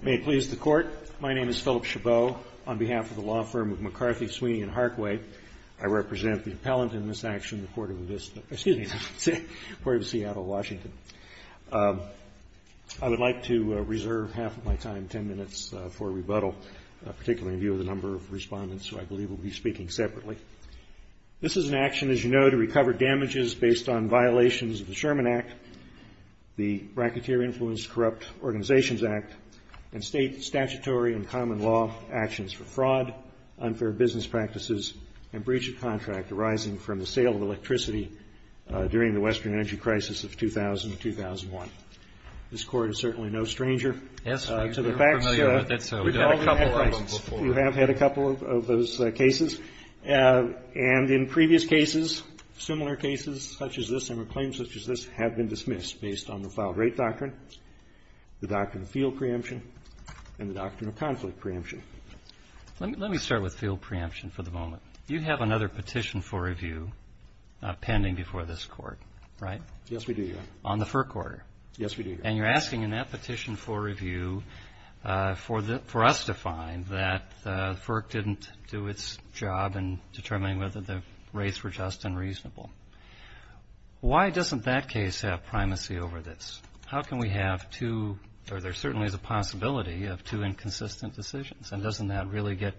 May it please the Court, my name is Philip Chabot. On behalf of the law firm of McCarthy, Sweeney, and Harkway, I represent the appellant in this action, the Court of Avista, excuse me, the Court of Seattle, Washington. I would like to reserve half of my time, ten minutes, for rebuttal, particularly in view of the number of respondents who I believe will be speaking separately. This is an action, as you know, to recover damages based on violations of the Sherman Act, the Bracketeer-Influenced Corrupt Organizations Act, and state statutory and common law actions for fraud, unfair business practices, and breach of contract arising from the sale of electricity during the Western Energy Crisis of 2000 and 2001. This Court is certainly no stranger to the facts. We have had a couple of those cases, and in previous cases, similar cases such as this and claims such as this have been dismissed based on the Foul Rate Doctrine, the Doctrine of Field Preemption, and the Doctrine of Conflict Preemption. Let me start with field preemption for the moment. You have another petition for review pending before this Court, right? Yes, we do, Your Honor. On the fur quarter. Yes, we do, Your Honor. And you're asking in that petition for review for us to find that FERC didn't do its job in determining whether the rates were just and reasonable. Why doesn't that case have primacy over this? How can we have two, or there certainly is a possibility of two inconsistent decisions, and doesn't that really get,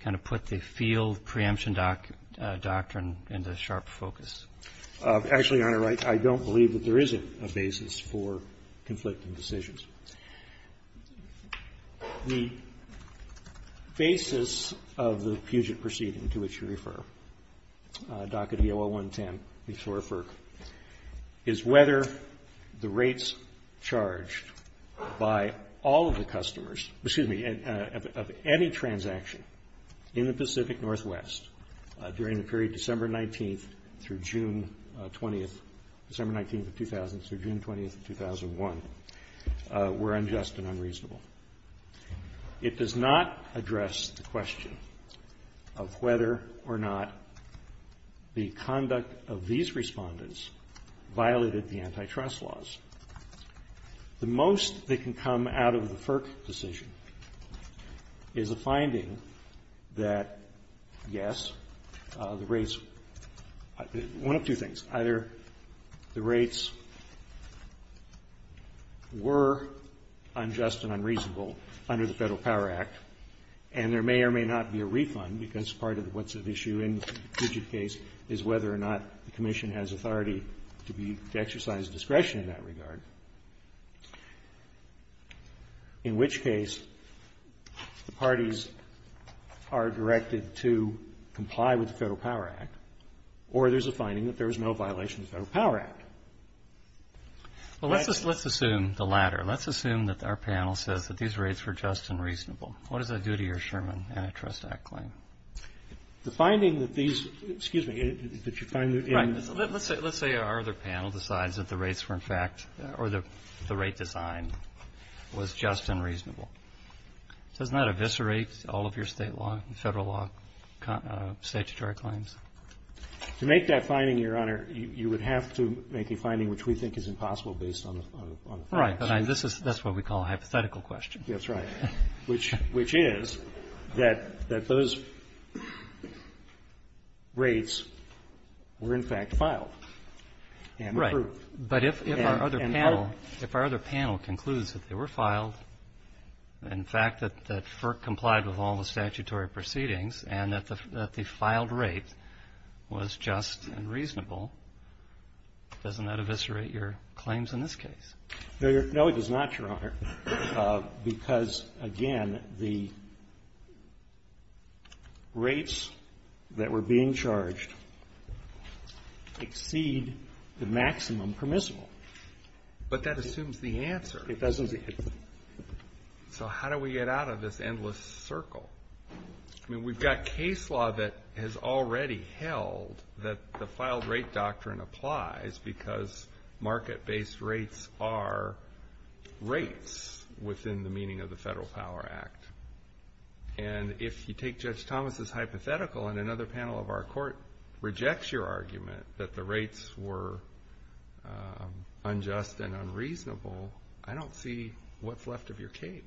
kind of put the field preemption doctrine into sharp focus? Actually, Your Honor, I don't believe that there is a basis for conflicting decisions. The basis of the Puget Proceeding to which you refer, DACA DO-0110, before FERC, is whether the rates charged by all of the customers, excuse me, of any transaction in the Pacific Northwest during the period December 19th through June 20th, December 19th of 2000 through June 20th of 2001, were unjust and unreasonable. It does not address the question of whether or not the conduct of these Respondents violated the antitrust laws. The most that can come out of the FERC decision is a finding that, yes, the rates one of two things. Either the rates were unjust and unreasonable under the Federal Power Act, and there may or may not be a refund, because part of what's at issue in the Puget case is whether or not the Commission has authority to exercise discretion in that regard, in which case the parties are directed to comply with the Federal Power Act, or there's a finding that there was no violation of the Federal Power Act. Well, let's assume the latter. Let's assume that our panel says that these rates were just and reasonable. What does that do to your Sherman Antitrust Act claim? The finding that these, excuse me, that you find that in. Right. Let's say our other panel decides that the rates were, in fact, or the rate design was just and reasonable. Doesn't that eviscerate all of your State law and Federal law statutory claims? To make that finding, Your Honor, you would have to make a finding which we think is impossible based on the facts. That's what we call a hypothetical question. That's right. Which is that those rates were, in fact, filed and approved. Right. But if our other panel concludes that they were filed, in fact, that FERC complied with all the statutory proceedings and that the filed rate was just and reasonable, doesn't that eviscerate your claims in this case? No, it does not, Your Honor. Because, again, the rates that were being charged exceed the maximum permissible. But that assumes the answer. It doesn't. So how do we get out of this endless circle? I mean, we've got case law that has already held that the filed rate doctrine applies because market-based rates are rates within the meaning of the Federal Power Act. And if you take Judge Thomas' hypothetical and another panel of our court rejects your argument that the rates were unjust and unreasonable, I don't see what's left of your case.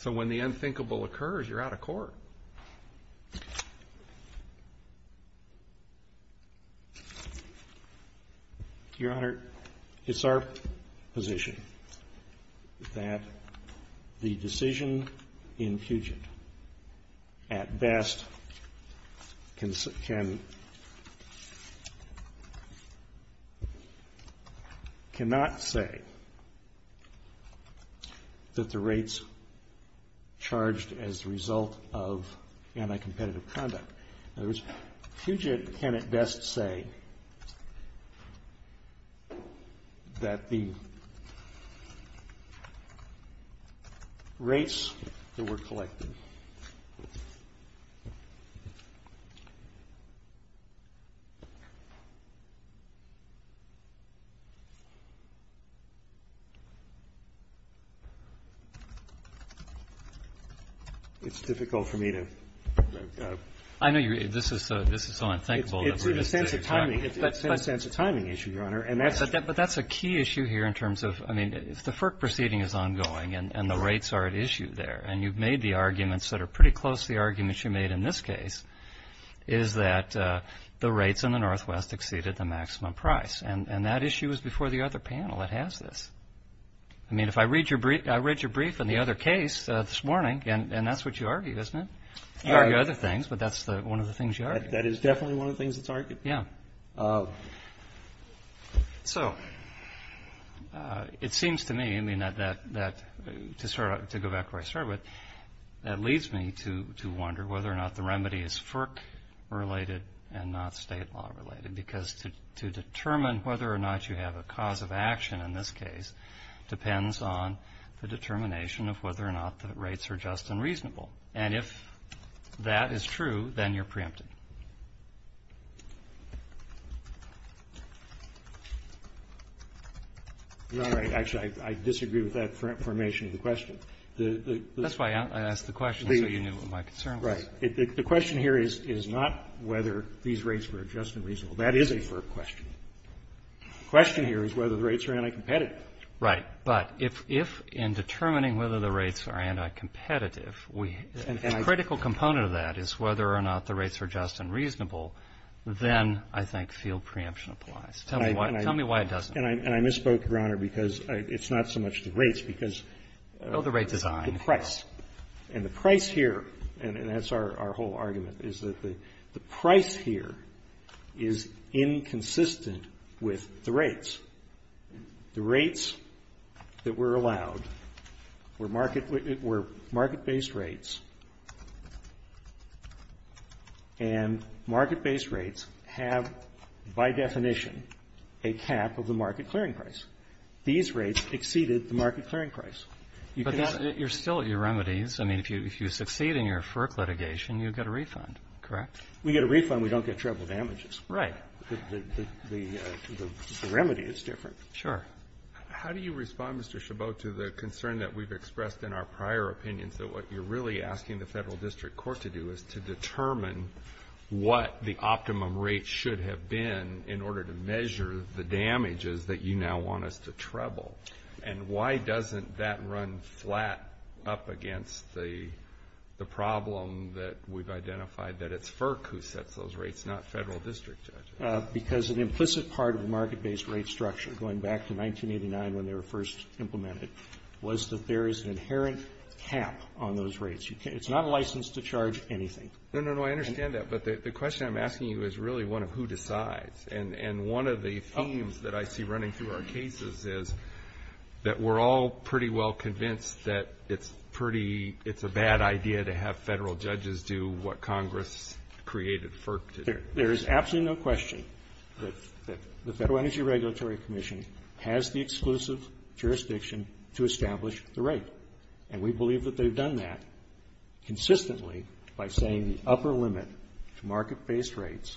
So when the unthinkable occurs, you're out of court. Your Honor, it's our position that the decision in Puget, at best, cannot say whether the that the rates charged as a result of anti-competitive conduct. In other words, Puget cannot best say that the rates that were collected. It's difficult for me to go. I know. This is so unthinkable. It's in a sense a timing issue, Your Honor. But that's a key issue here in terms of, I mean, if the FERC proceeding is ongoing and the rates are at issue there, and you've made the arguments that are pretty close to the arguments you made in this case, is that the rates in the Northwest exceeded the maximum price. And that issue is before the other panel that has this. I mean, if I read your brief in the other case this morning, and that's what you argue, isn't it? You argue other things, but that's one of the things you argue. That is definitely one of the things that's argued. Yeah. So it seems to me, I mean, to go back to where I started with, that leads me to wonder whether or not the remedy is FERC related and not state law related because to determine whether or not you have a cause of action in this case depends on the determination of whether or not the rates are just and reasonable. And if that is true, then you're preempted. You're not right. Actually, I disagree with that formation of the question. That's why I asked the question so you knew what my concern was. Right. The question here is not whether these rates were just and reasonable. That is a FERC question. The question here is whether the rates are anti-competitive. Right. But if in determining whether the rates are anti-competitive, a critical component of that is whether or not the rates are just and reasonable, then I think field preemption applies. Tell me why it doesn't. And I misspoke, Your Honor, because it's not so much the rates because the price. Oh, the rate design. And the price here, and that's our whole argument, is that the price here is inconsistent with the rates. The rates that were allowed were market-based rates. And market-based rates have, by definition, a cap of the market clearing price. These rates exceeded the market clearing price. But you're still at your remedies. I mean, if you succeed in your FERC litigation, you get a refund, correct? We get a refund. We don't get treble damages. Right. The remedy is different. Sure. How do you respond, Mr. Chabot, to the concern that we've expressed in our prior opinions that what you're really asking the Federal District Court to do is to determine what the optimum rate should have been in order to measure the damages that you now want us to treble? And why doesn't that run flat up against the problem that we've identified, that it's FERC who sets those rates, not Federal District judges? Because an implicit part of the market-based rate structure, going back to 1989 when they were first implemented, was that there is an inherent cap on those rates. It's not a license to charge anything. No, no, no. I understand that. But the question I'm asking you is really one of who decides. And one of the themes that I see running through our cases is that we're all pretty well convinced that it's a bad idea to have Federal judges do what Congress created FERC to do. There is absolutely no question that the Federal Energy Regulatory Commission has the exclusive jurisdiction to establish the rate. And we believe that they've done that consistently by saying the upper limit to market-based rates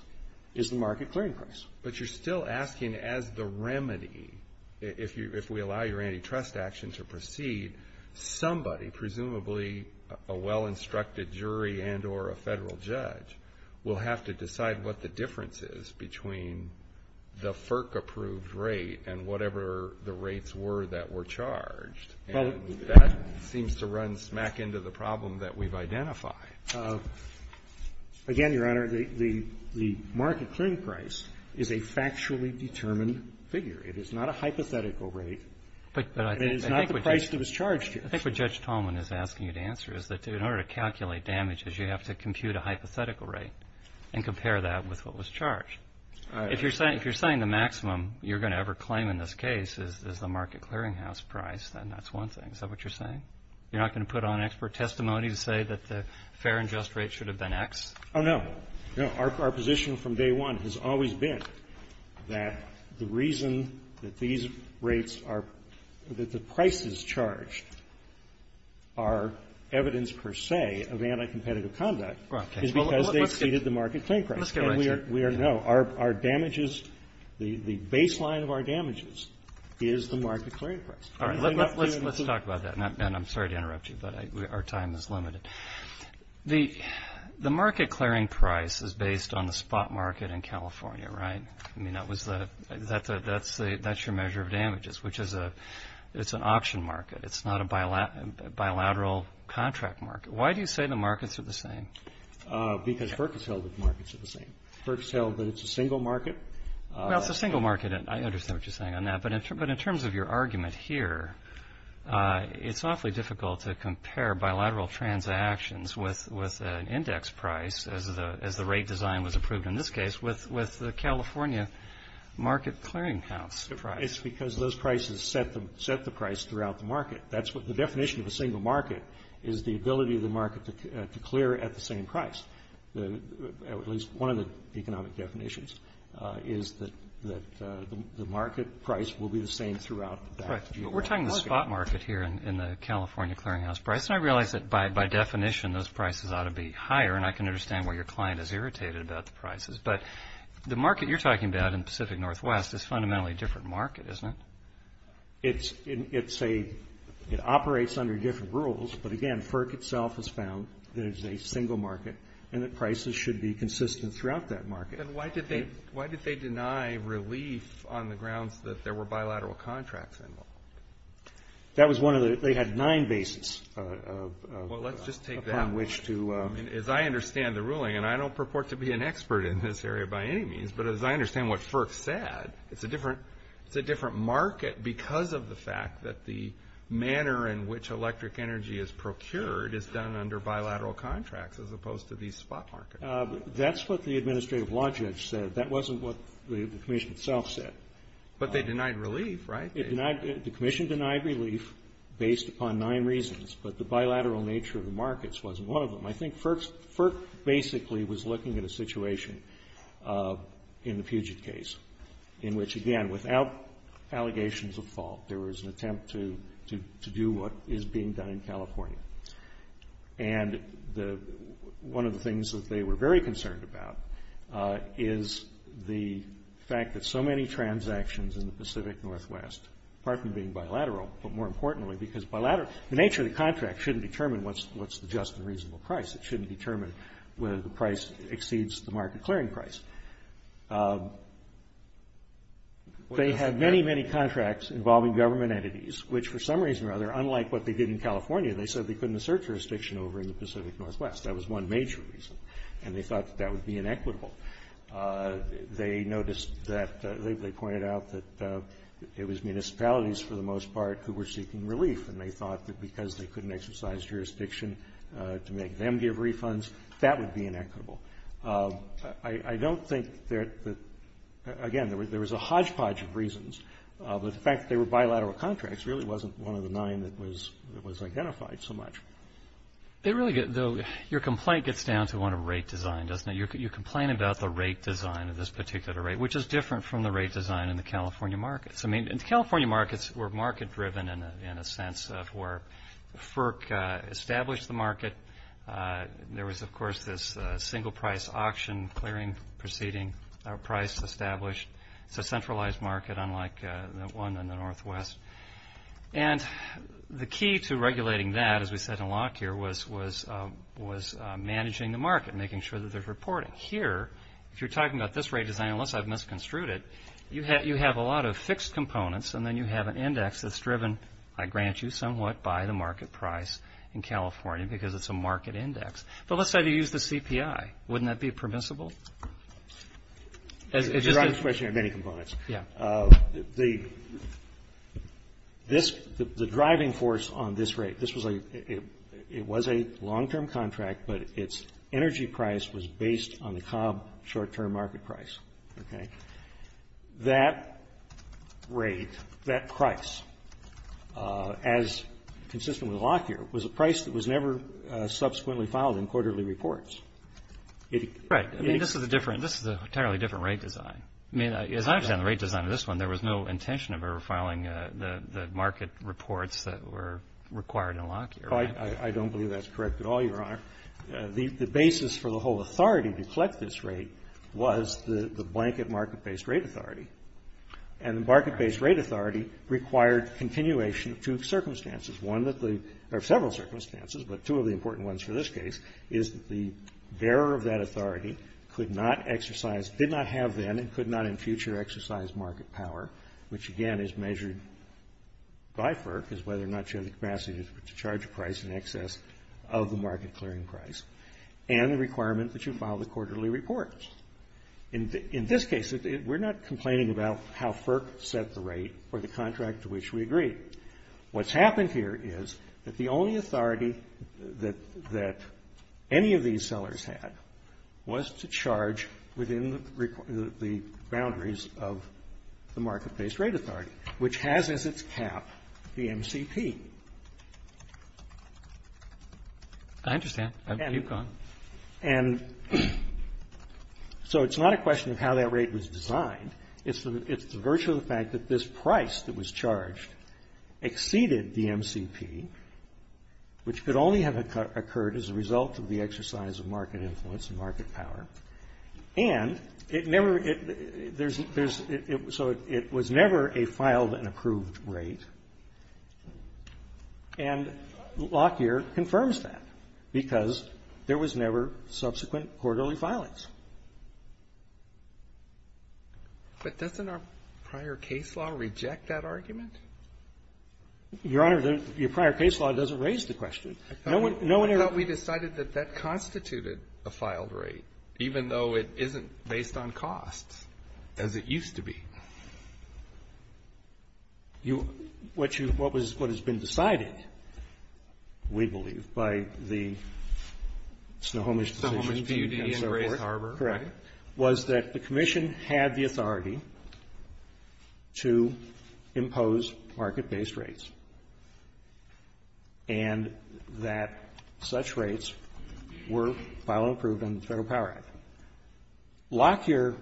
is the market clearing price. But you're still asking as the remedy, if we allow your antitrust action to proceed, somebody, presumably a well-instructed jury and or a Federal judge, will have to decide what the difference is between the FERC-approved rate and whatever the rates were that were charged. And that seems to run smack into the problem that we've identified. Again, Your Honor, the market clearing price is a factually determined figure. It is not a hypothetical rate. And it is not the price that was charged here. I think what Judge Tolman is asking you to answer is that in order to calculate damages, you have to compute a hypothetical rate and compare that with what was charged. If you're saying the maximum you're going to ever claim in this case is the market clearinghouse price, then that's one thing. Is that what you're saying? You're not going to put on expert testimony to say that the fair and just rate should have been X? Oh, no. No. Our position from day one has always been that the reason that these rates are the prices charged are evidence per se of anticompetitive conduct is because they exceeded the market clearing price. Let's get right to it. No. Our damages, the baseline of our damages is the market clearing price. All right. Let's talk about that. And I'm sorry to interrupt you, but our time is limited. The market clearing price is based on the spot market in California, right? I mean, that's your measure of damages, which is an auction market. It's not a bilateral contract market. Why do you say the markets are the same? Because FERC has held that the markets are the same. FERC has held that it's a single market. Well, it's a single market. I understand what you're saying on that. But in terms of your argument here, it's awfully difficult to compare bilateral transactions with an index price, as the rate design was approved in this case, with the California market clearing house price. It's because those prices set the price throughout the market. The definition of a single market is the ability of the market to clear at the same price. At least one of the economic definitions is that the market price will be the same throughout. We're talking the spot market here in the California clearing house price, and I realize that by definition those prices ought to be higher, and I can understand why your client is irritated about the prices. But the market you're talking about in Pacific Northwest is fundamentally a different market, isn't it? It's a – it operates under different rules. But, again, FERC itself has found that it's a single market and that prices should be consistent throughout that market. Then why did they deny relief on the grounds that there were bilateral contracts involved? That was one of the – they had nine bases upon which to – Well, let's just take that one. I mean, as I understand the ruling, and I don't purport to be an expert in this area by any means, but as I understand what FERC said, it's a different market because of the fact that the manner in which electric energy is procured is done under bilateral contracts as opposed to these spot markets. That's what the administrative logic said. That wasn't what the commission itself said. But they denied relief, right? The commission denied relief based upon nine reasons, but the bilateral nature of the markets wasn't one of them. I think FERC basically was looking at a situation in the Puget case in which, again, without allegations of fault, there was an attempt to do what is being done in California. And one of the things that they were very concerned about is the fact that so many transactions in the Pacific Northwest, apart from being bilateral, but more importantly because bilateral – the nature of the contract shouldn't determine what's the just and reasonable price. It shouldn't determine whether the price exceeds the market clearing price. They had many, many contracts involving government entities, which for some reason or other, unlike what they did in California, they said they couldn't assert jurisdiction over in the Pacific Northwest. That was one major reason, and they thought that that would be inequitable. They noticed that – they pointed out that it was municipalities for the most part who were seeking relief, and they thought that because they couldn't exercise jurisdiction to make them give refunds, that would be inequitable. I don't think that – again, there was a hodgepodge of reasons, but the fact that they were bilateral contracts really wasn't one of the nine that was identified so much. They really – though your complaint gets down to one of rate design, doesn't it? You're complaining about the rate design of this particular rate, which is different from the rate design in the California markets. I mean, the California markets were market-driven in a sense of where FERC established the market. There was, of course, this single-price auction clearing proceeding price established. It's a centralized market, unlike the one in the Northwest. And the key to regulating that, as we said in Locke here, was managing the market, making sure that there's reporting. Here, if you're talking about this rate design, unless I've misconstrued it, you have a lot of fixed components and then you have an index that's driven, I grant you somewhat, by the market price in California because it's a market index. But let's say they use the CPI. Wouldn't that be permissible? You're asking this question about many components. The driving force on this rate, this was a – it was a long-term contract, but its energy price was based on the Cobb short-term market price, okay? That rate, that price, as consistent with Locke here, was a price that was never subsequently filed in quarterly reports. Right. I mean, this is a different – this is an entirely different rate design. I mean, as I understand the rate design of this one, there was no intention of ever filing the market reports that were required in Locke here, right? I don't believe that's correct at all, Your Honor. The basis for the whole authority to collect this rate was the blanket market-based rate authority. And the market-based rate authority required continuation of two circumstances, one that the – or several circumstances, but two of the important ones for this case, is that the bearer of that authority could not exercise – did not have then and could not in future exercise market power, which, again, is measured by FERC, is whether or not you have the capacity to charge a price in excess of the market-clearing price, and the requirement that you file the quarterly reports. In this case, we're not complaining about how FERC set the rate or the contract to which we agree. What's happened here is that the only authority that any of these sellers had was to charge within the boundaries of the market-based rate authority, which has as its cap the MCP. Roberts. I understand. Keep going. And so it's not a question of how that rate was designed. It's the virtue of the fact that this price that was charged exceeded the MCP, which could only have occurred as a result of the exercise of market influence and market power. And it never – there's – so it was never a filed and approved rate. And Lockyer confirms that because there was never subsequent quarterly filings. But doesn't our prior case law reject that argument? Your Honor, your prior case law doesn't raise the question. No one ever – even though it isn't based on costs as it used to be. What you – what was – what has been decided, we believe, by the Snohomish Decision Team at Snohomish Harbor was that the commission had the authority to impose market-based rates and that such rates were filed and approved under the Federal Power Act. Lockyer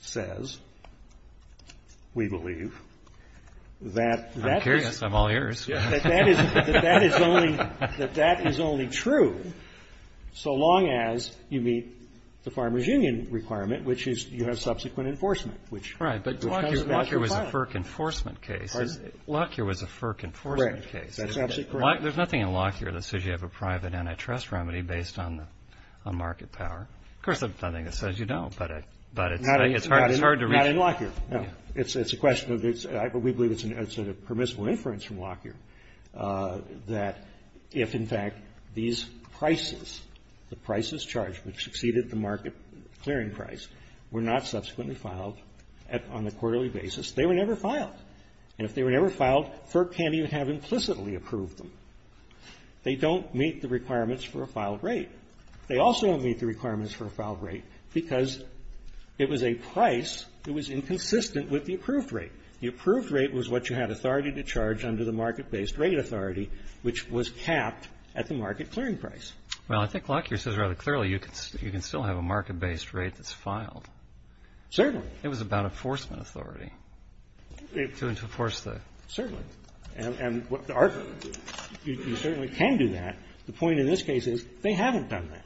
says, we believe, that that is – I'm curious. I'm all ears. That that is only – that that is only true so long as you meet the Farmers Union requirement, which is you have subsequent enforcement, which comes back to the farm. Right. But Lockyer was a FERC enforcement case. Lockyer was a FERC enforcement case. Right. That's absolutely correct. There's nothing in Lockyer that says you have a private antitrust remedy based on market power. Of course, there's nothing that says you don't, but it's hard to reach. Not in Lockyer. No. It's a question of – we believe it's a permissible inference from Lockyer that if, in fact, these prices, the prices charged which exceeded the market clearing price, were not subsequently filed on a quarterly basis, they were never filed. And if they were never filed, FERC can't even have implicitly approved them. They don't meet the requirements for a filed rate. They also don't meet the requirements for a filed rate because it was a price that was inconsistent with the approved rate. The approved rate was what you had authority to charge under the market-based rate authority, which was capped at the market clearing price. Well, I think Lockyer says rather clearly you can still have a market-based rate that's filed. Certainly. It was about enforcement authority. To enforce the – Certainly. And what the argument is, you certainly can do that. The point in this case is they haven't done that.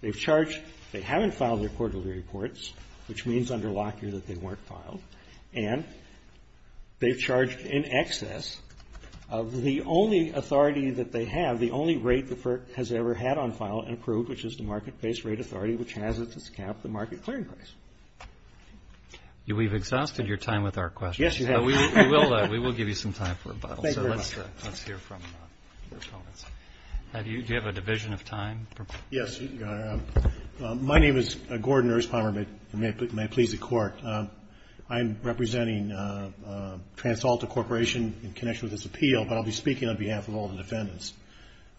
They've charged – they haven't filed their quarterly reports, which means under Lockyer that they weren't filed. And they've charged in excess of the only authority that they have, the only rate the FERC has ever had on file and approved, which is the market-based rate authority which has its cap at the market clearing price. We've exhausted your time with our questions. Yes, you have. We will give you some time for rebuttal. Thank you very much. So let's hear from your opponents. Do you have a division of time? Yes. My name is Gordon Erspommer. May it please the Court. I'm representing TransAlta Corporation in connection with this appeal, but I'll be speaking on behalf of all the defendants.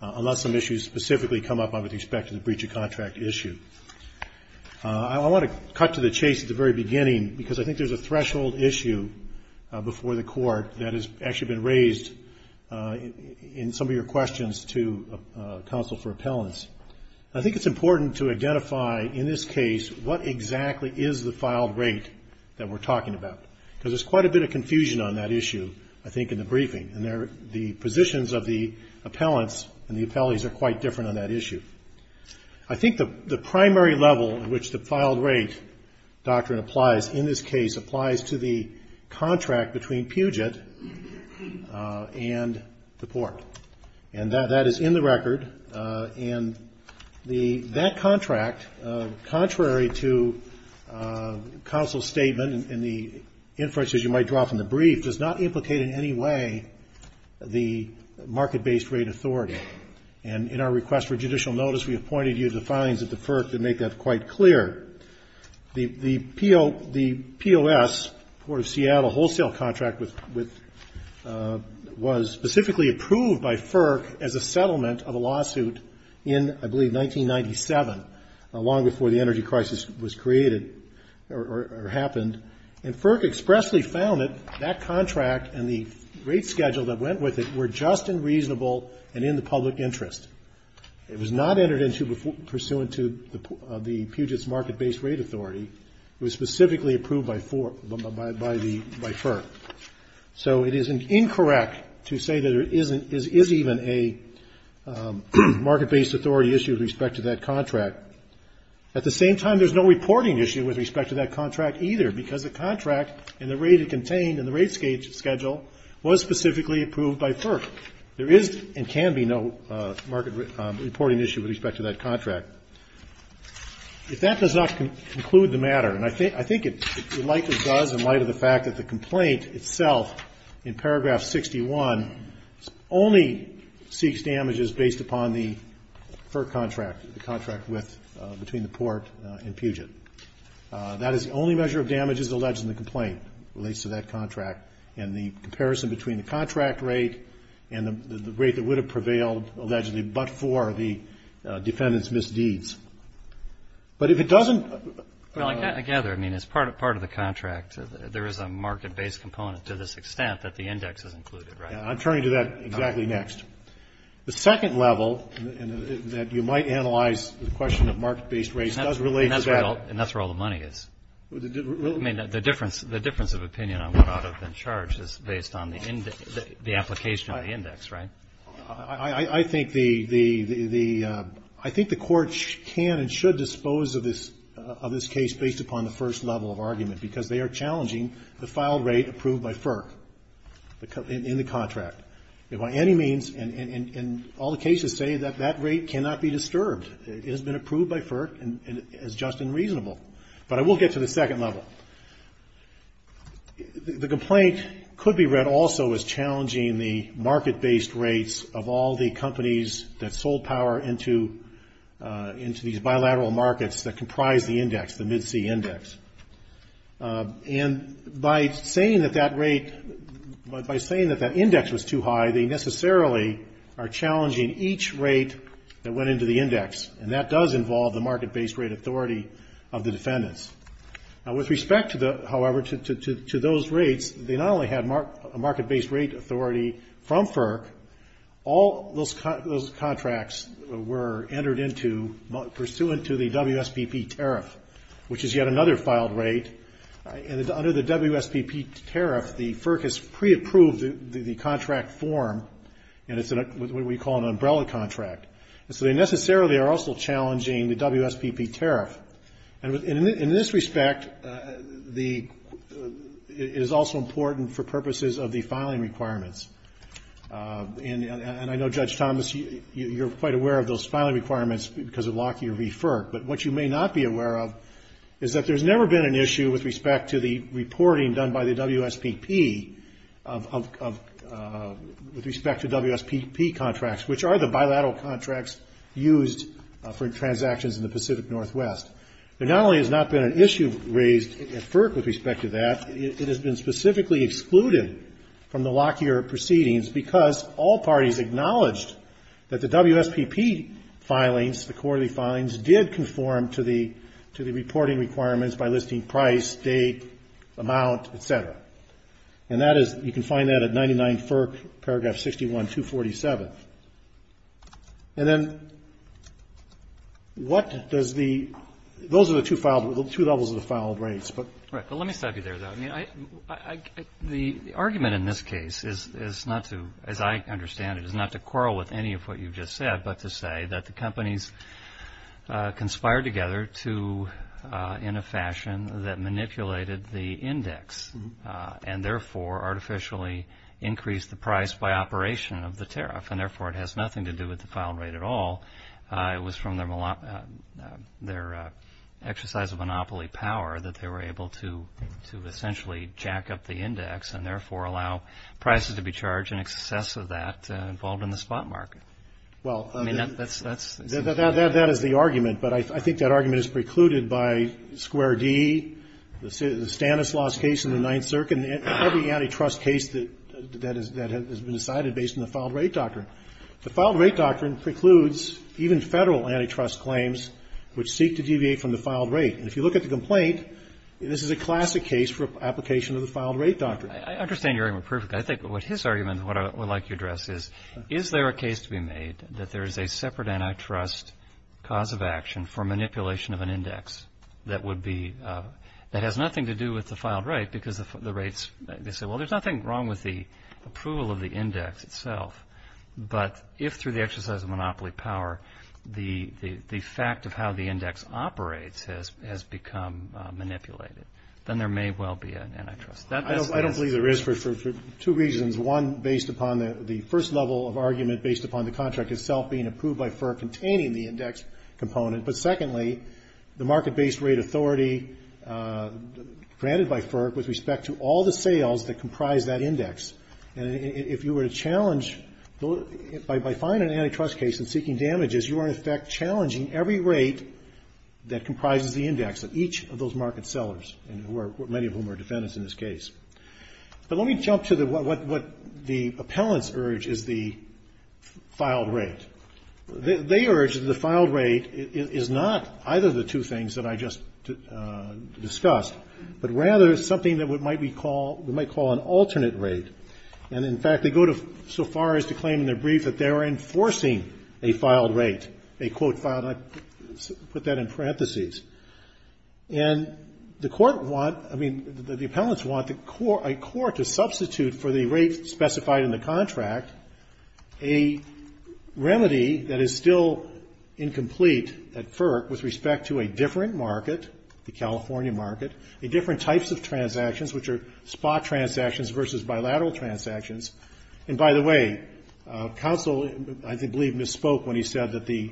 Unless some issues specifically come up, I would expect a breach of contract issue. I want to cut to the chase at the very beginning because I think there's a threshold issue before the Court that has actually been raised in some of your questions to counsel for appellants. I think it's important to identify in this case what exactly is the filed rate that we're talking about because there's quite a bit of confusion on that issue, I think, in the briefing. And the positions of the appellants and the appellees are quite different on that issue. I think the primary level in which the filed rate doctrine applies in this case applies to the contract between Puget and the court, and that is in the record. And that contract, contrary to counsel's statement and the inferences you might drop in the brief, does not implicate in any way the market-based rate authority. And in our request for judicial notice, we appointed you to the filings at the FERC to make that quite clear. The POS, Port of Seattle Wholesale Contract, was specifically approved by FERC as a settlement of a lawsuit in, I believe, 1997, long before the energy crisis was created or happened. And FERC expressly found that that contract and the rate schedule that went with it were just and reasonable and in the public interest. It was not entered into pursuant to the Puget's market-based rate authority. It was specifically approved by FERC. So it is incorrect to say that there is even a market-based authority issue with respect to that contract. At the same time, there's no reporting issue with respect to that contract either, because the contract and the rate it contained and the rate schedule was specifically approved by FERC. There is and can be no market reporting issue with respect to that contract. If that does not conclude the matter, and I think it likely does in light of the fact that the complaint itself, in paragraph 61, only seeks damages based upon the FERC contract, the contract with, between the port and Puget. That is the only measure of damages alleged in the complaint that relates to that contract. And the comparison between the contract rate and the rate that would have prevailed, allegedly, but for the defendant's misdeeds. But if it doesn't. Well, I gather, I mean, as part of the contract, there is a market-based component to this extent that the index is included, right? I'm turning to that exactly next. The second level that you might analyze the question of market-based rates does relate to that. And that's where all the money is. I mean, the difference of opinion on what ought to have been charged is based on the application of the index, right? I think the court can and should dispose of this case based upon the first level of argument, because they are challenging the file rate approved by FERC in the contract. By any means, and all the cases say that that rate cannot be disturbed. It has been approved by FERC and is just and reasonable. But I will get to the second level. The complaint could be read also as challenging the market-based rates of all the companies that sold power into these bilateral markets that comprise the index, the Mid-C Index. And by saying that that rate, by saying that that index was too high, they necessarily are challenging each rate that went into the index. And that does involve the market-based rate authority of the defendants. Now, with respect, however, to those rates, they not only had market-based rate authority from FERC, all those contracts were entered into pursuant to the WSPP tariff, which is yet another filed rate. And under the WSPP tariff, the FERC has pre-approved the contract form, and it's what we call an umbrella contract. And so they necessarily are also challenging the WSPP tariff. And in this respect, it is also important for purposes of the filing requirements. And I know, Judge Thomas, you're quite aware of those filing requirements because of Lockyer v. FERC. But what you may not be aware of is that there's never been an issue with respect to the reporting done by the WSPP with respect to WSPP contracts, which are the bilateral contracts used for transactions in the Pacific Northwest. There not only has not been an issue raised at FERC with respect to that, it has been specifically excluded from the Lockyer proceedings because all parties acknowledged that the WSPP filings, did conform to the reporting requirements by listing price, date, amount, et cetera. And that is, you can find that at 99 FERC, paragraph 61, 247. And then what does the, those are the two levels of the filed rates, but. Right. But let me stop you there, though. I mean, the argument in this case is not to, as I understand it, is not to quarrel with any of what you've just said, but to say that the companies conspired together to, in a fashion that manipulated the index and therefore artificially increased the price by operation of the tariff. And therefore, it has nothing to do with the filing rate at all. It was from their exercise of monopoly power that they were able to essentially jack up the index and therefore allow prices to be charged in excess of that involved in the spot market. Well. I mean, that's, that's. That is the argument. But I think that argument is precluded by Square D, the Stanislaus case in the Ninth Circuit, and every antitrust case that has been decided based on the filed rate doctrine. The filed rate doctrine precludes even Federal antitrust claims which seek to deviate from the filed rate. And if you look at the complaint, this is a classic case for application of the filed rate doctrine. I understand your argument perfectly. I think what his argument, what I would like to address is, is there a case to be made that there is a separate antitrust cause of action for manipulation of an index that would be, that has nothing to do with the filed rate because the rates, they say, well, there's nothing wrong with the approval of the index itself. But if through the exercise of monopoly power, the fact of how the index operates has become manipulated, then there may well be an antitrust. I don't believe there is for two reasons. One, based upon the first level of argument based upon the contract itself being approved by FERC containing the index component. But secondly, the market-based rate authority granted by FERC with respect to all the sales that comprise that index. And if you were to challenge, by filing an antitrust case and seeking damages, you are in effect challenging every rate that comprises the index of each of those cases. But let me jump to what the appellants urge is the filed rate. They urge that the filed rate is not either of the two things that I just discussed, but rather something that we might call an alternate rate. And, in fact, they go so far as to claim in their brief that they are enforcing a filed rate, a, quote, filed rate. I put that in parentheses. And the court want, I mean, the appellants want a court to substitute for the rate specified in the contract a remedy that is still incomplete at FERC with respect to a different market, the California market, a different types of transactions, which are spot transactions versus bilateral transactions. And, by the way, counsel I believe misspoke when he said that the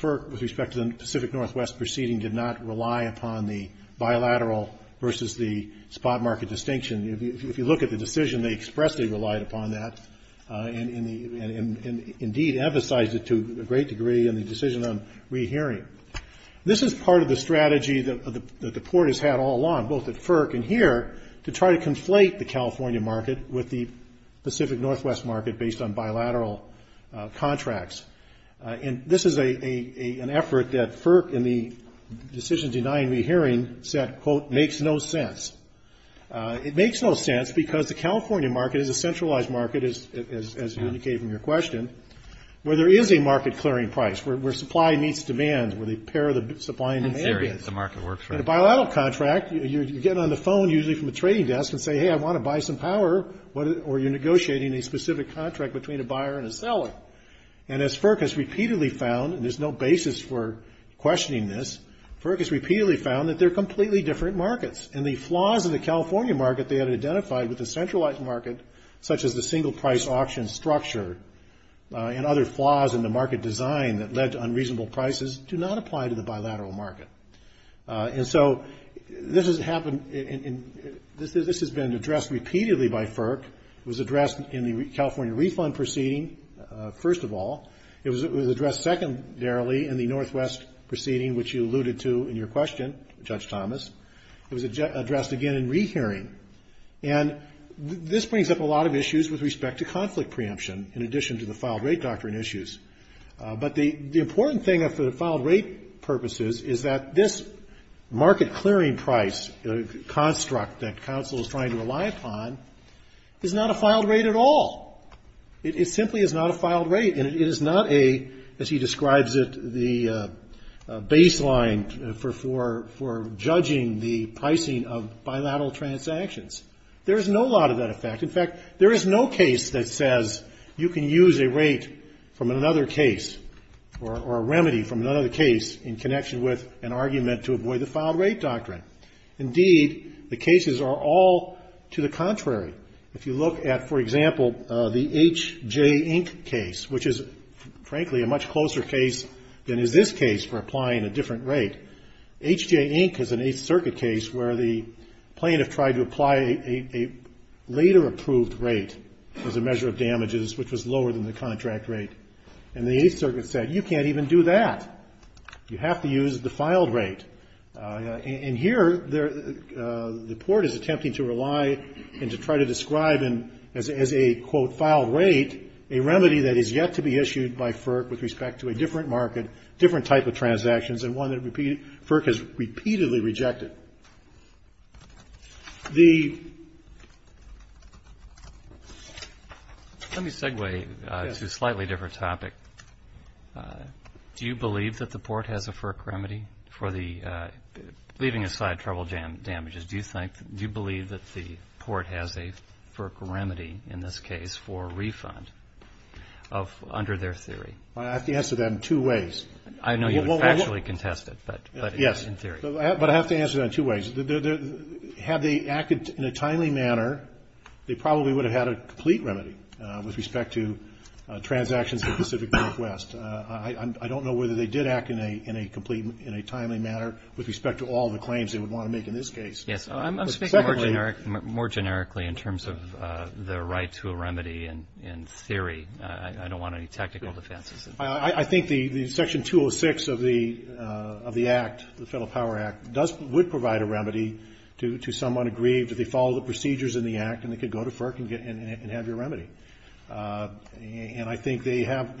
FERC with respect to the Pacific Northwest proceeding did not rely upon the bilateral versus the spot market distinction. If you look at the decision, they expressly relied upon that and, indeed, emphasized it to a great degree in the decision on rehearing. This is part of the strategy that the court has had all along, both at FERC and here, to try to conflate the California market with the Pacific Northwest market based on bilateral contracts. And this is an effort that FERC, in the decision denying rehearing, said, quote, makes no sense. It makes no sense because the California market is a centralized market, as you indicated in your question, where there is a market clearing price, where supply meets demand, where the pair of the supply and demand. In theory, that's the market works for. In a bilateral contract, you're getting on the phone usually from a trading desk and say, hey, I want to buy some power, or you're negotiating a specific contract between a buyer and a seller. And as FERC has repeatedly found, and there's no basis for questioning this, FERC has repeatedly found that they're completely different markets. And the flaws in the California market they had identified with the centralized market, such as the single price auction structure and other flaws in the market design that led to unreasonable prices, do not apply to the bilateral market. And so this has been addressed repeatedly by FERC. It was addressed in the California refund proceeding, first of all. It was addressed secondarily in the Northwest proceeding, which you alluded to in your question, Judge Thomas. It was addressed again in rehearing. And this brings up a lot of issues with respect to conflict preemption, in addition to the filed rate doctrine issues. But the important thing for the filed rate purposes is that this market clearing price construct that counsel is trying to rely upon is not a filed rate at all. It simply is not a filed rate. And it is not a, as he describes it, the baseline for judging the pricing of bilateral transactions. There is no lot of that effect. In fact, there is no case that says you can use a rate from another case or a remedy from another case in connection with an argument to avoid the filed rate doctrine. Indeed, the cases are all to the contrary. If you look at, for example, the H.J. Inc. case, which is frankly a much closer case than is this case for applying a different rate. H.J. Inc. is an Eighth Circuit case where the plaintiff tried to apply a later approved rate as a measure of damages, which was lower than the contract rate. And the Eighth Circuit said you can't even do that. You have to use the filed rate. And here the court is attempting to rely and to try to describe as a, quote, filed rate a remedy that is yet to be issued by FERC with respect to a different market, different type of transactions, and one that FERC has repeatedly rejected. Let me segue to a slightly different topic. Do you believe that the court has a FERC remedy for the, leaving aside trouble damages, do you think, do you believe that the court has a FERC remedy in this case for a refund under their theory? I have to answer that in two ways. I know you would factually contest it, but in theory. Yes, but I have to answer that in two ways. Had they acted in a timely manner, they probably would have had a complete remedy with respect to transactions in the Pacific Northwest. I don't know whether they did act in a complete, in a timely manner with respect to all the claims they would want to make in this case. Yes. I'm speaking more generically in terms of the right to a remedy in theory. I don't want any technical defenses. I think the Section 206 of the Act, the Federal Power Act, does, would provide a remedy to someone aggrieved if they follow the procedures in the Act and they could go to FERC and have your remedy. And I think they have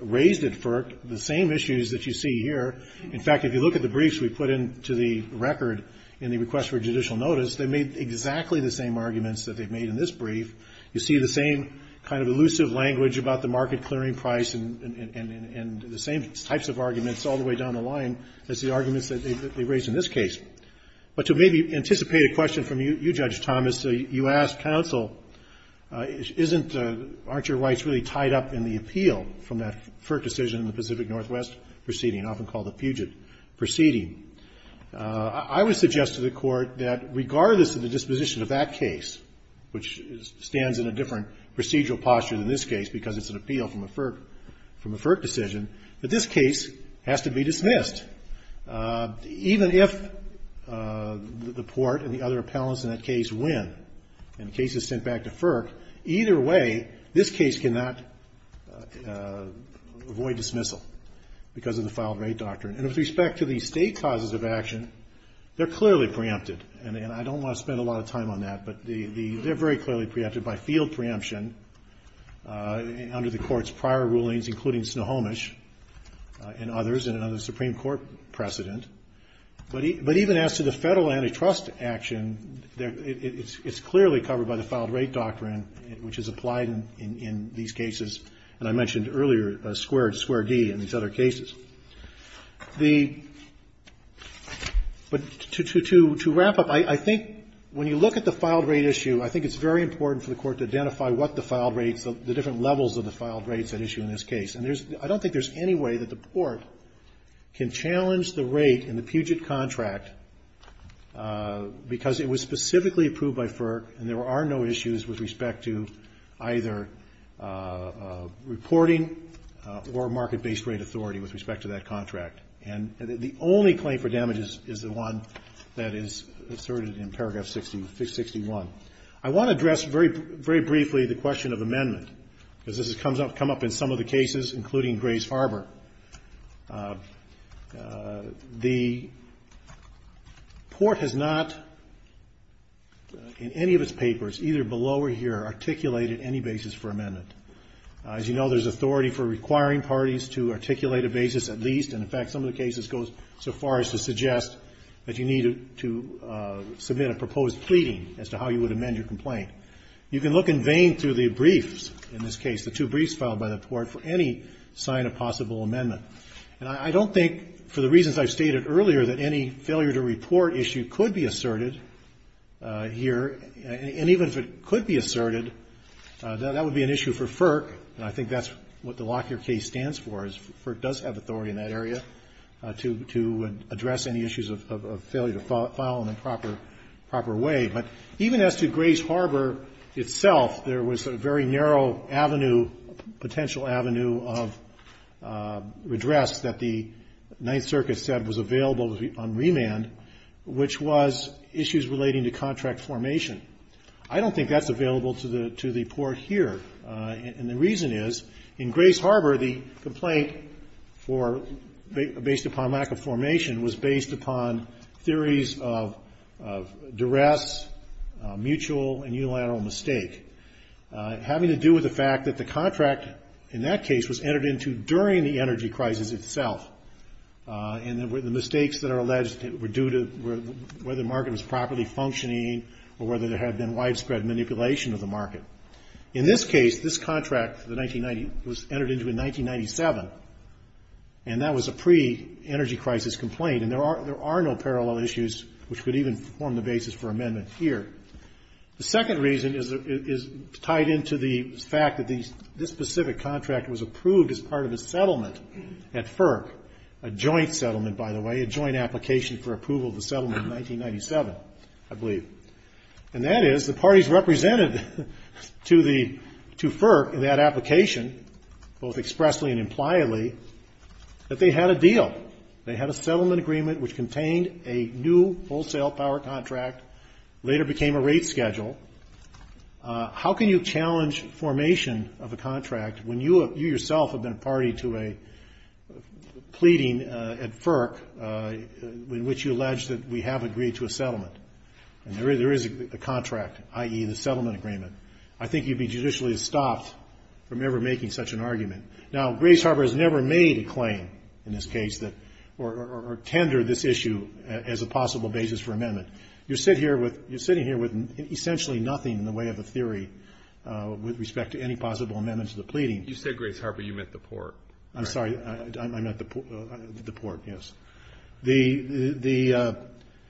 raised at FERC the same issues that you see here. In fact, if you look at the briefs we put into the record in the request for judicial notice, they made exactly the same arguments that they made in this brief. You see the same kind of elusive language about the market clearing price and the same types of arguments all the way down the line as the arguments that they raised in this case. But to maybe anticipate a question from you, Judge Thomas, you asked counsel, isn't, aren't your rights really tied up in the appeal from that FERC decision in the Pacific Northwest proceeding, often called the Puget proceeding. I would suggest to the Court that regardless of the disposition of that case, which stands in a different procedural posture than this case because it's an appeal from a FERC decision, that this case has to be dismissed. And even if the court and the other appellants in that case win and the case is sent back to FERC, either way, this case cannot avoid dismissal because of the filed right doctrine. And with respect to the state causes of action, they're clearly preempted. And I don't want to spend a lot of time on that, but they're very clearly preempted by field preemption under the Court's prior rulings, including Snohomish and others precedent under the Supreme Court precedent. But even as to the Federal antitrust action, it's clearly covered by the filed right doctrine, which is applied in these cases. And I mentioned earlier square D in these other cases. The – but to wrap up, I think when you look at the filed right issue, I think it's very important for the Court to identify what the filed rights, the different levels of the filed rights at issue in this case. And there's – I don't think there's any way that the Court can challenge the rate in the Puget contract because it was specifically approved by FERC and there are no issues with respect to either reporting or market-based rate authority with respect to that contract. And the only claim for damages is the one that is asserted in paragraph 61. I want to address very briefly the question of amendment because this has come up in some of the cases, including Grace Harbor. The court has not, in any of its papers, either below or here, articulated any basis for amendment. As you know, there's authority for requiring parties to articulate a basis at least. And, in fact, some of the cases go so far as to suggest that you need to submit a proposed pleading as to how you would amend your complaint. You can look in vain through the briefs in this case, the two briefs filed by the Court, for any sign of possible amendment. And I don't think, for the reasons I've stated earlier, that any failure to report issue could be asserted here. And even if it could be asserted, that would be an issue for FERC, and I think that's what the Lockyer case stands for, is FERC does have authority in that area to address any issues of failure to file in a proper way. But even as to Grace Harbor itself, there was a very narrow avenue, potential avenue of redress that the Ninth Circuit said was available on remand, which was issues relating to contract formation. I don't think that's available to the court here, and the reason is, in Grace Harbor, the complaint, based upon lack of formation, was based upon theories of duress, mutual and unilateral mistake, having to do with the fact that the contract, in that case, was entered into during the energy crisis itself. And the mistakes that are alleged were due to whether the market was properly functioning, or whether there had been widespread manipulation of the market. In this case, this contract, the 1990, was entered into in 1997, and that was a pre-energy crisis complaint, and there are no parallel issues which would even form the basis for amendment here. The second reason is tied into the fact that this specific contract was approved as part of a settlement at FERC, a joint settlement, by the way, a joint application for approval of the settlement in 1997, I believe. And that is, the parties represented to FERC in that application, both expressly and impliedly, that they had a deal. They had a settlement agreement which contained a new wholesale power contract, later became a rate schedule. How can you challenge formation of a contract when you yourself have been party to a pleading at FERC in which you allege that we have agreed to a settlement? And there is a contract, i.e., the settlement agreement. I think you'd be judicially stopped from ever making such an argument. Now, Grace Harbor has never made a claim in this case that or tendered this issue as a possible basis for amendment. You're sitting here with essentially nothing in the way of a theory with respect to any possible amendments to the pleading. You said Grace Harbor. You meant the port. I'm sorry. I meant the port, yes. I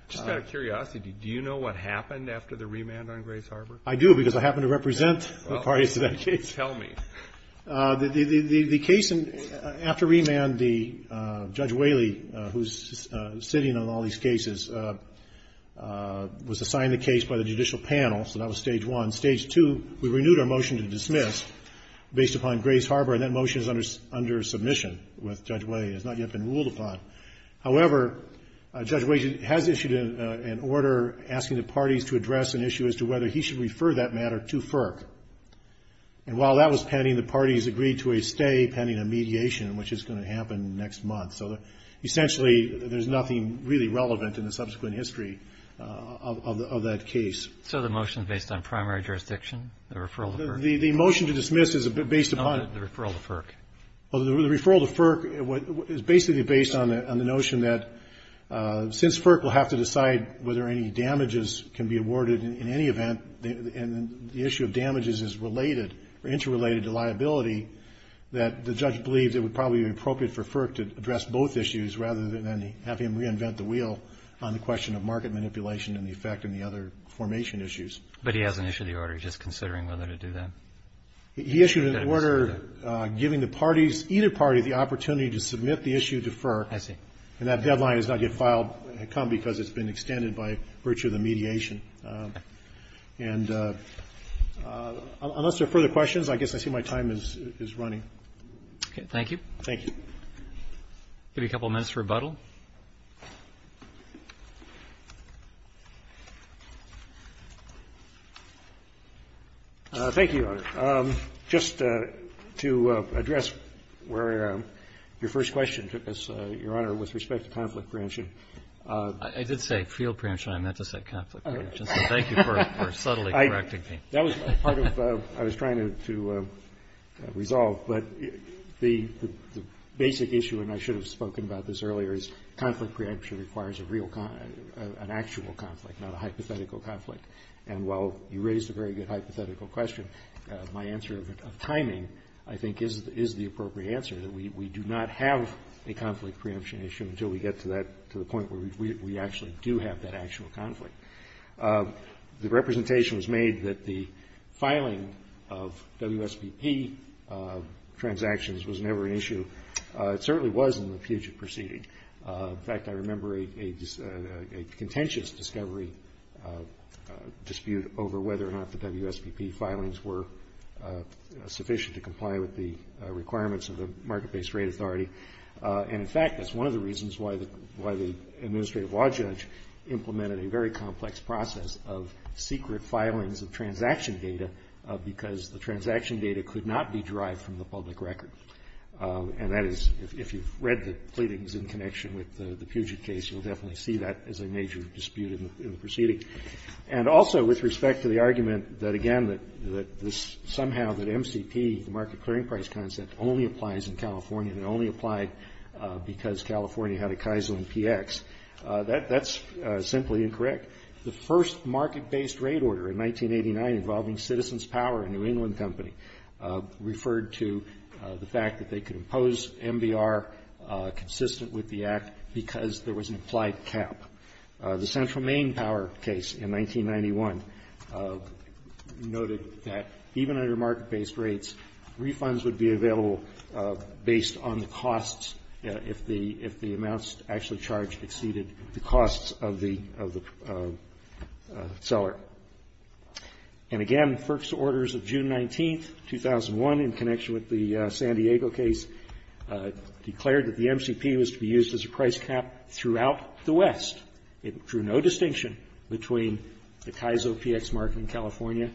just got a curiosity. Do you know what happened after the remand on Grace Harbor? I do, because I happen to represent the parties to that case. Well, tell me. The case after remand, Judge Whaley, who's sitting on all these cases, was assigned the case by the judicial panel, so that was Stage 1. Stage 2, we renewed our motion to dismiss based upon Grace Harbor, and that motion is under submission with Judge Whaley. It has not yet been ruled upon. However, Judge Whaley has issued an order asking the parties to address an issue as to whether he should refer that matter to FERC. And while that was pending, the parties agreed to a stay pending a mediation, which is going to happen next month. So essentially there's nothing really relevant in the subsequent history of that case. So the motion is based on primary jurisdiction, the referral to FERC? The motion to dismiss is based upon the referral to FERC. Well, the referral to FERC is basically based on the notion that since FERC will have to decide whether any damages can be awarded in any event, and the issue of damages is related or interrelated to liability, that the judge believes it would probably be appropriate for FERC to address both issues rather than have him reinvent the wheel on the question of market manipulation and the effect on the other formation issues. But he hasn't issued the order. He's just considering whether to do that. He issued an order giving the parties, either party, the opportunity to submit the issue to FERC. I see. And that deadline has not yet filed. It had come because it's been extended by virtue of the mediation. Okay. And unless there are further questions, I guess I see my time is running. Okay. Thank you. Thank you. I'll give you a couple minutes for rebuttal. Thank you, Your Honor. Just to address where your first question took us, Your Honor, with respect to conflict preemption. I did say field preemption. I meant to say conflict preemption. So thank you for subtly correcting me. That was part of what I was trying to resolve. But the basic issue, and I should have spoken about this earlier, is conflict preemption requires an actual conflict, not a hypothetical conflict. And while you raised a very good hypothetical question, my answer of timing, I think, is the appropriate answer, that we do not have a conflict preemption issue until we get to the point where we actually do have that actual conflict. The representation was made that the filing of WSBP transactions was never an issue. It certainly was in the Puget Proceeding. In fact, I remember a contentious discovery dispute over whether or not the WSBP filings were sufficient to comply with the requirements of the market-based rate authority. And, in fact, that's one of the reasons why the administrative law judge implemented a very complex process of secret filings of transaction data, because the transaction data could not be derived from the public record. And that is, if you've read the pleadings in connection with the Puget case, you'll definitely see that as a major dispute in the proceeding. And also, with respect to the argument that, again, that somehow that MCP, the market clearing price concept, only applies in California and only applied because California had a Kaizen PX. That's simply incorrect. The first market-based rate order in 1989 involving Citizens Power, a New England company, referred to the fact that they could impose MBR consistent with the Act because there was an implied cap. The Central Main Power case in 1991 noted that even under market-based rates, refunds would be available based on the costs if the amounts actually charged exceeded the costs of the seller. And, again, FERC's orders of June 19, 2001, in connection with the San Diego case, declared that the MCP was to be used as a price cap throughout the West. It drew no distinction between the Kaizen PX market in California,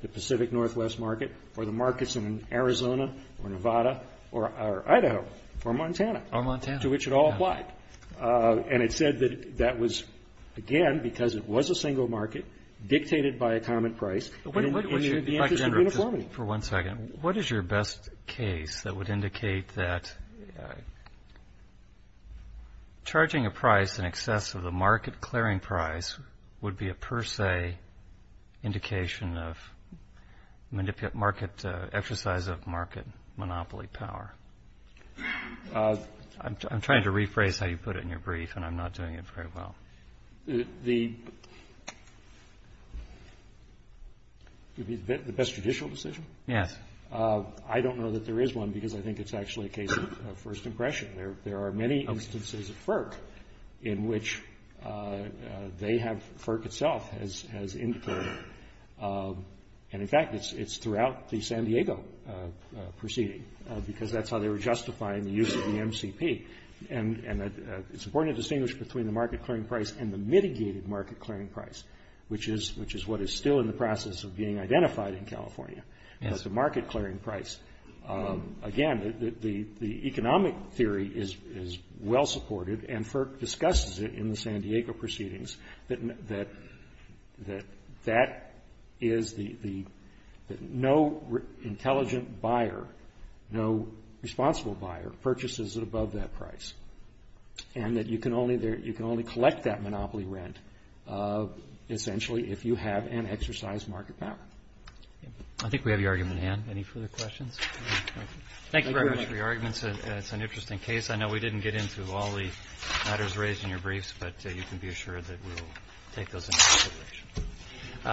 the Pacific Northwest market, or the markets in Arizona or Nevada or Idaho or Montana. Or Montana. To which it all applied. And it said that that was, again, because it was a single market, dictated by a common price in the interest of uniformity. For one second. What is your best case that would indicate that charging a price in excess of the exercise of market monopoly power? I'm trying to rephrase how you put it in your brief, and I'm not doing it very well. The best judicial decision? Yes. I don't know that there is one because I think it's actually a case of first impression. There are many instances of FERC in which they have, FERC itself, has indicated. And, in fact, it's throughout the San Diego proceeding, because that's how they were justifying the use of the MCP. And it's important to distinguish between the market clearing price and the mitigated market clearing price, which is what is still in the process of being identified in California, the market clearing price. Again, the economic theory is well-supported, and FERC discusses it in the San Diego proceedings, that no intelligent buyer, no responsible buyer, purchases above that price. And that you can only collect that monopoly rent, essentially, if you have an exercise market power. I think we have your argument at hand. Any further questions? Thank you very much for your arguments. It's an interesting case. I know we didn't get into all the matters raised in your briefs, but you can be assured that we will take those into consideration.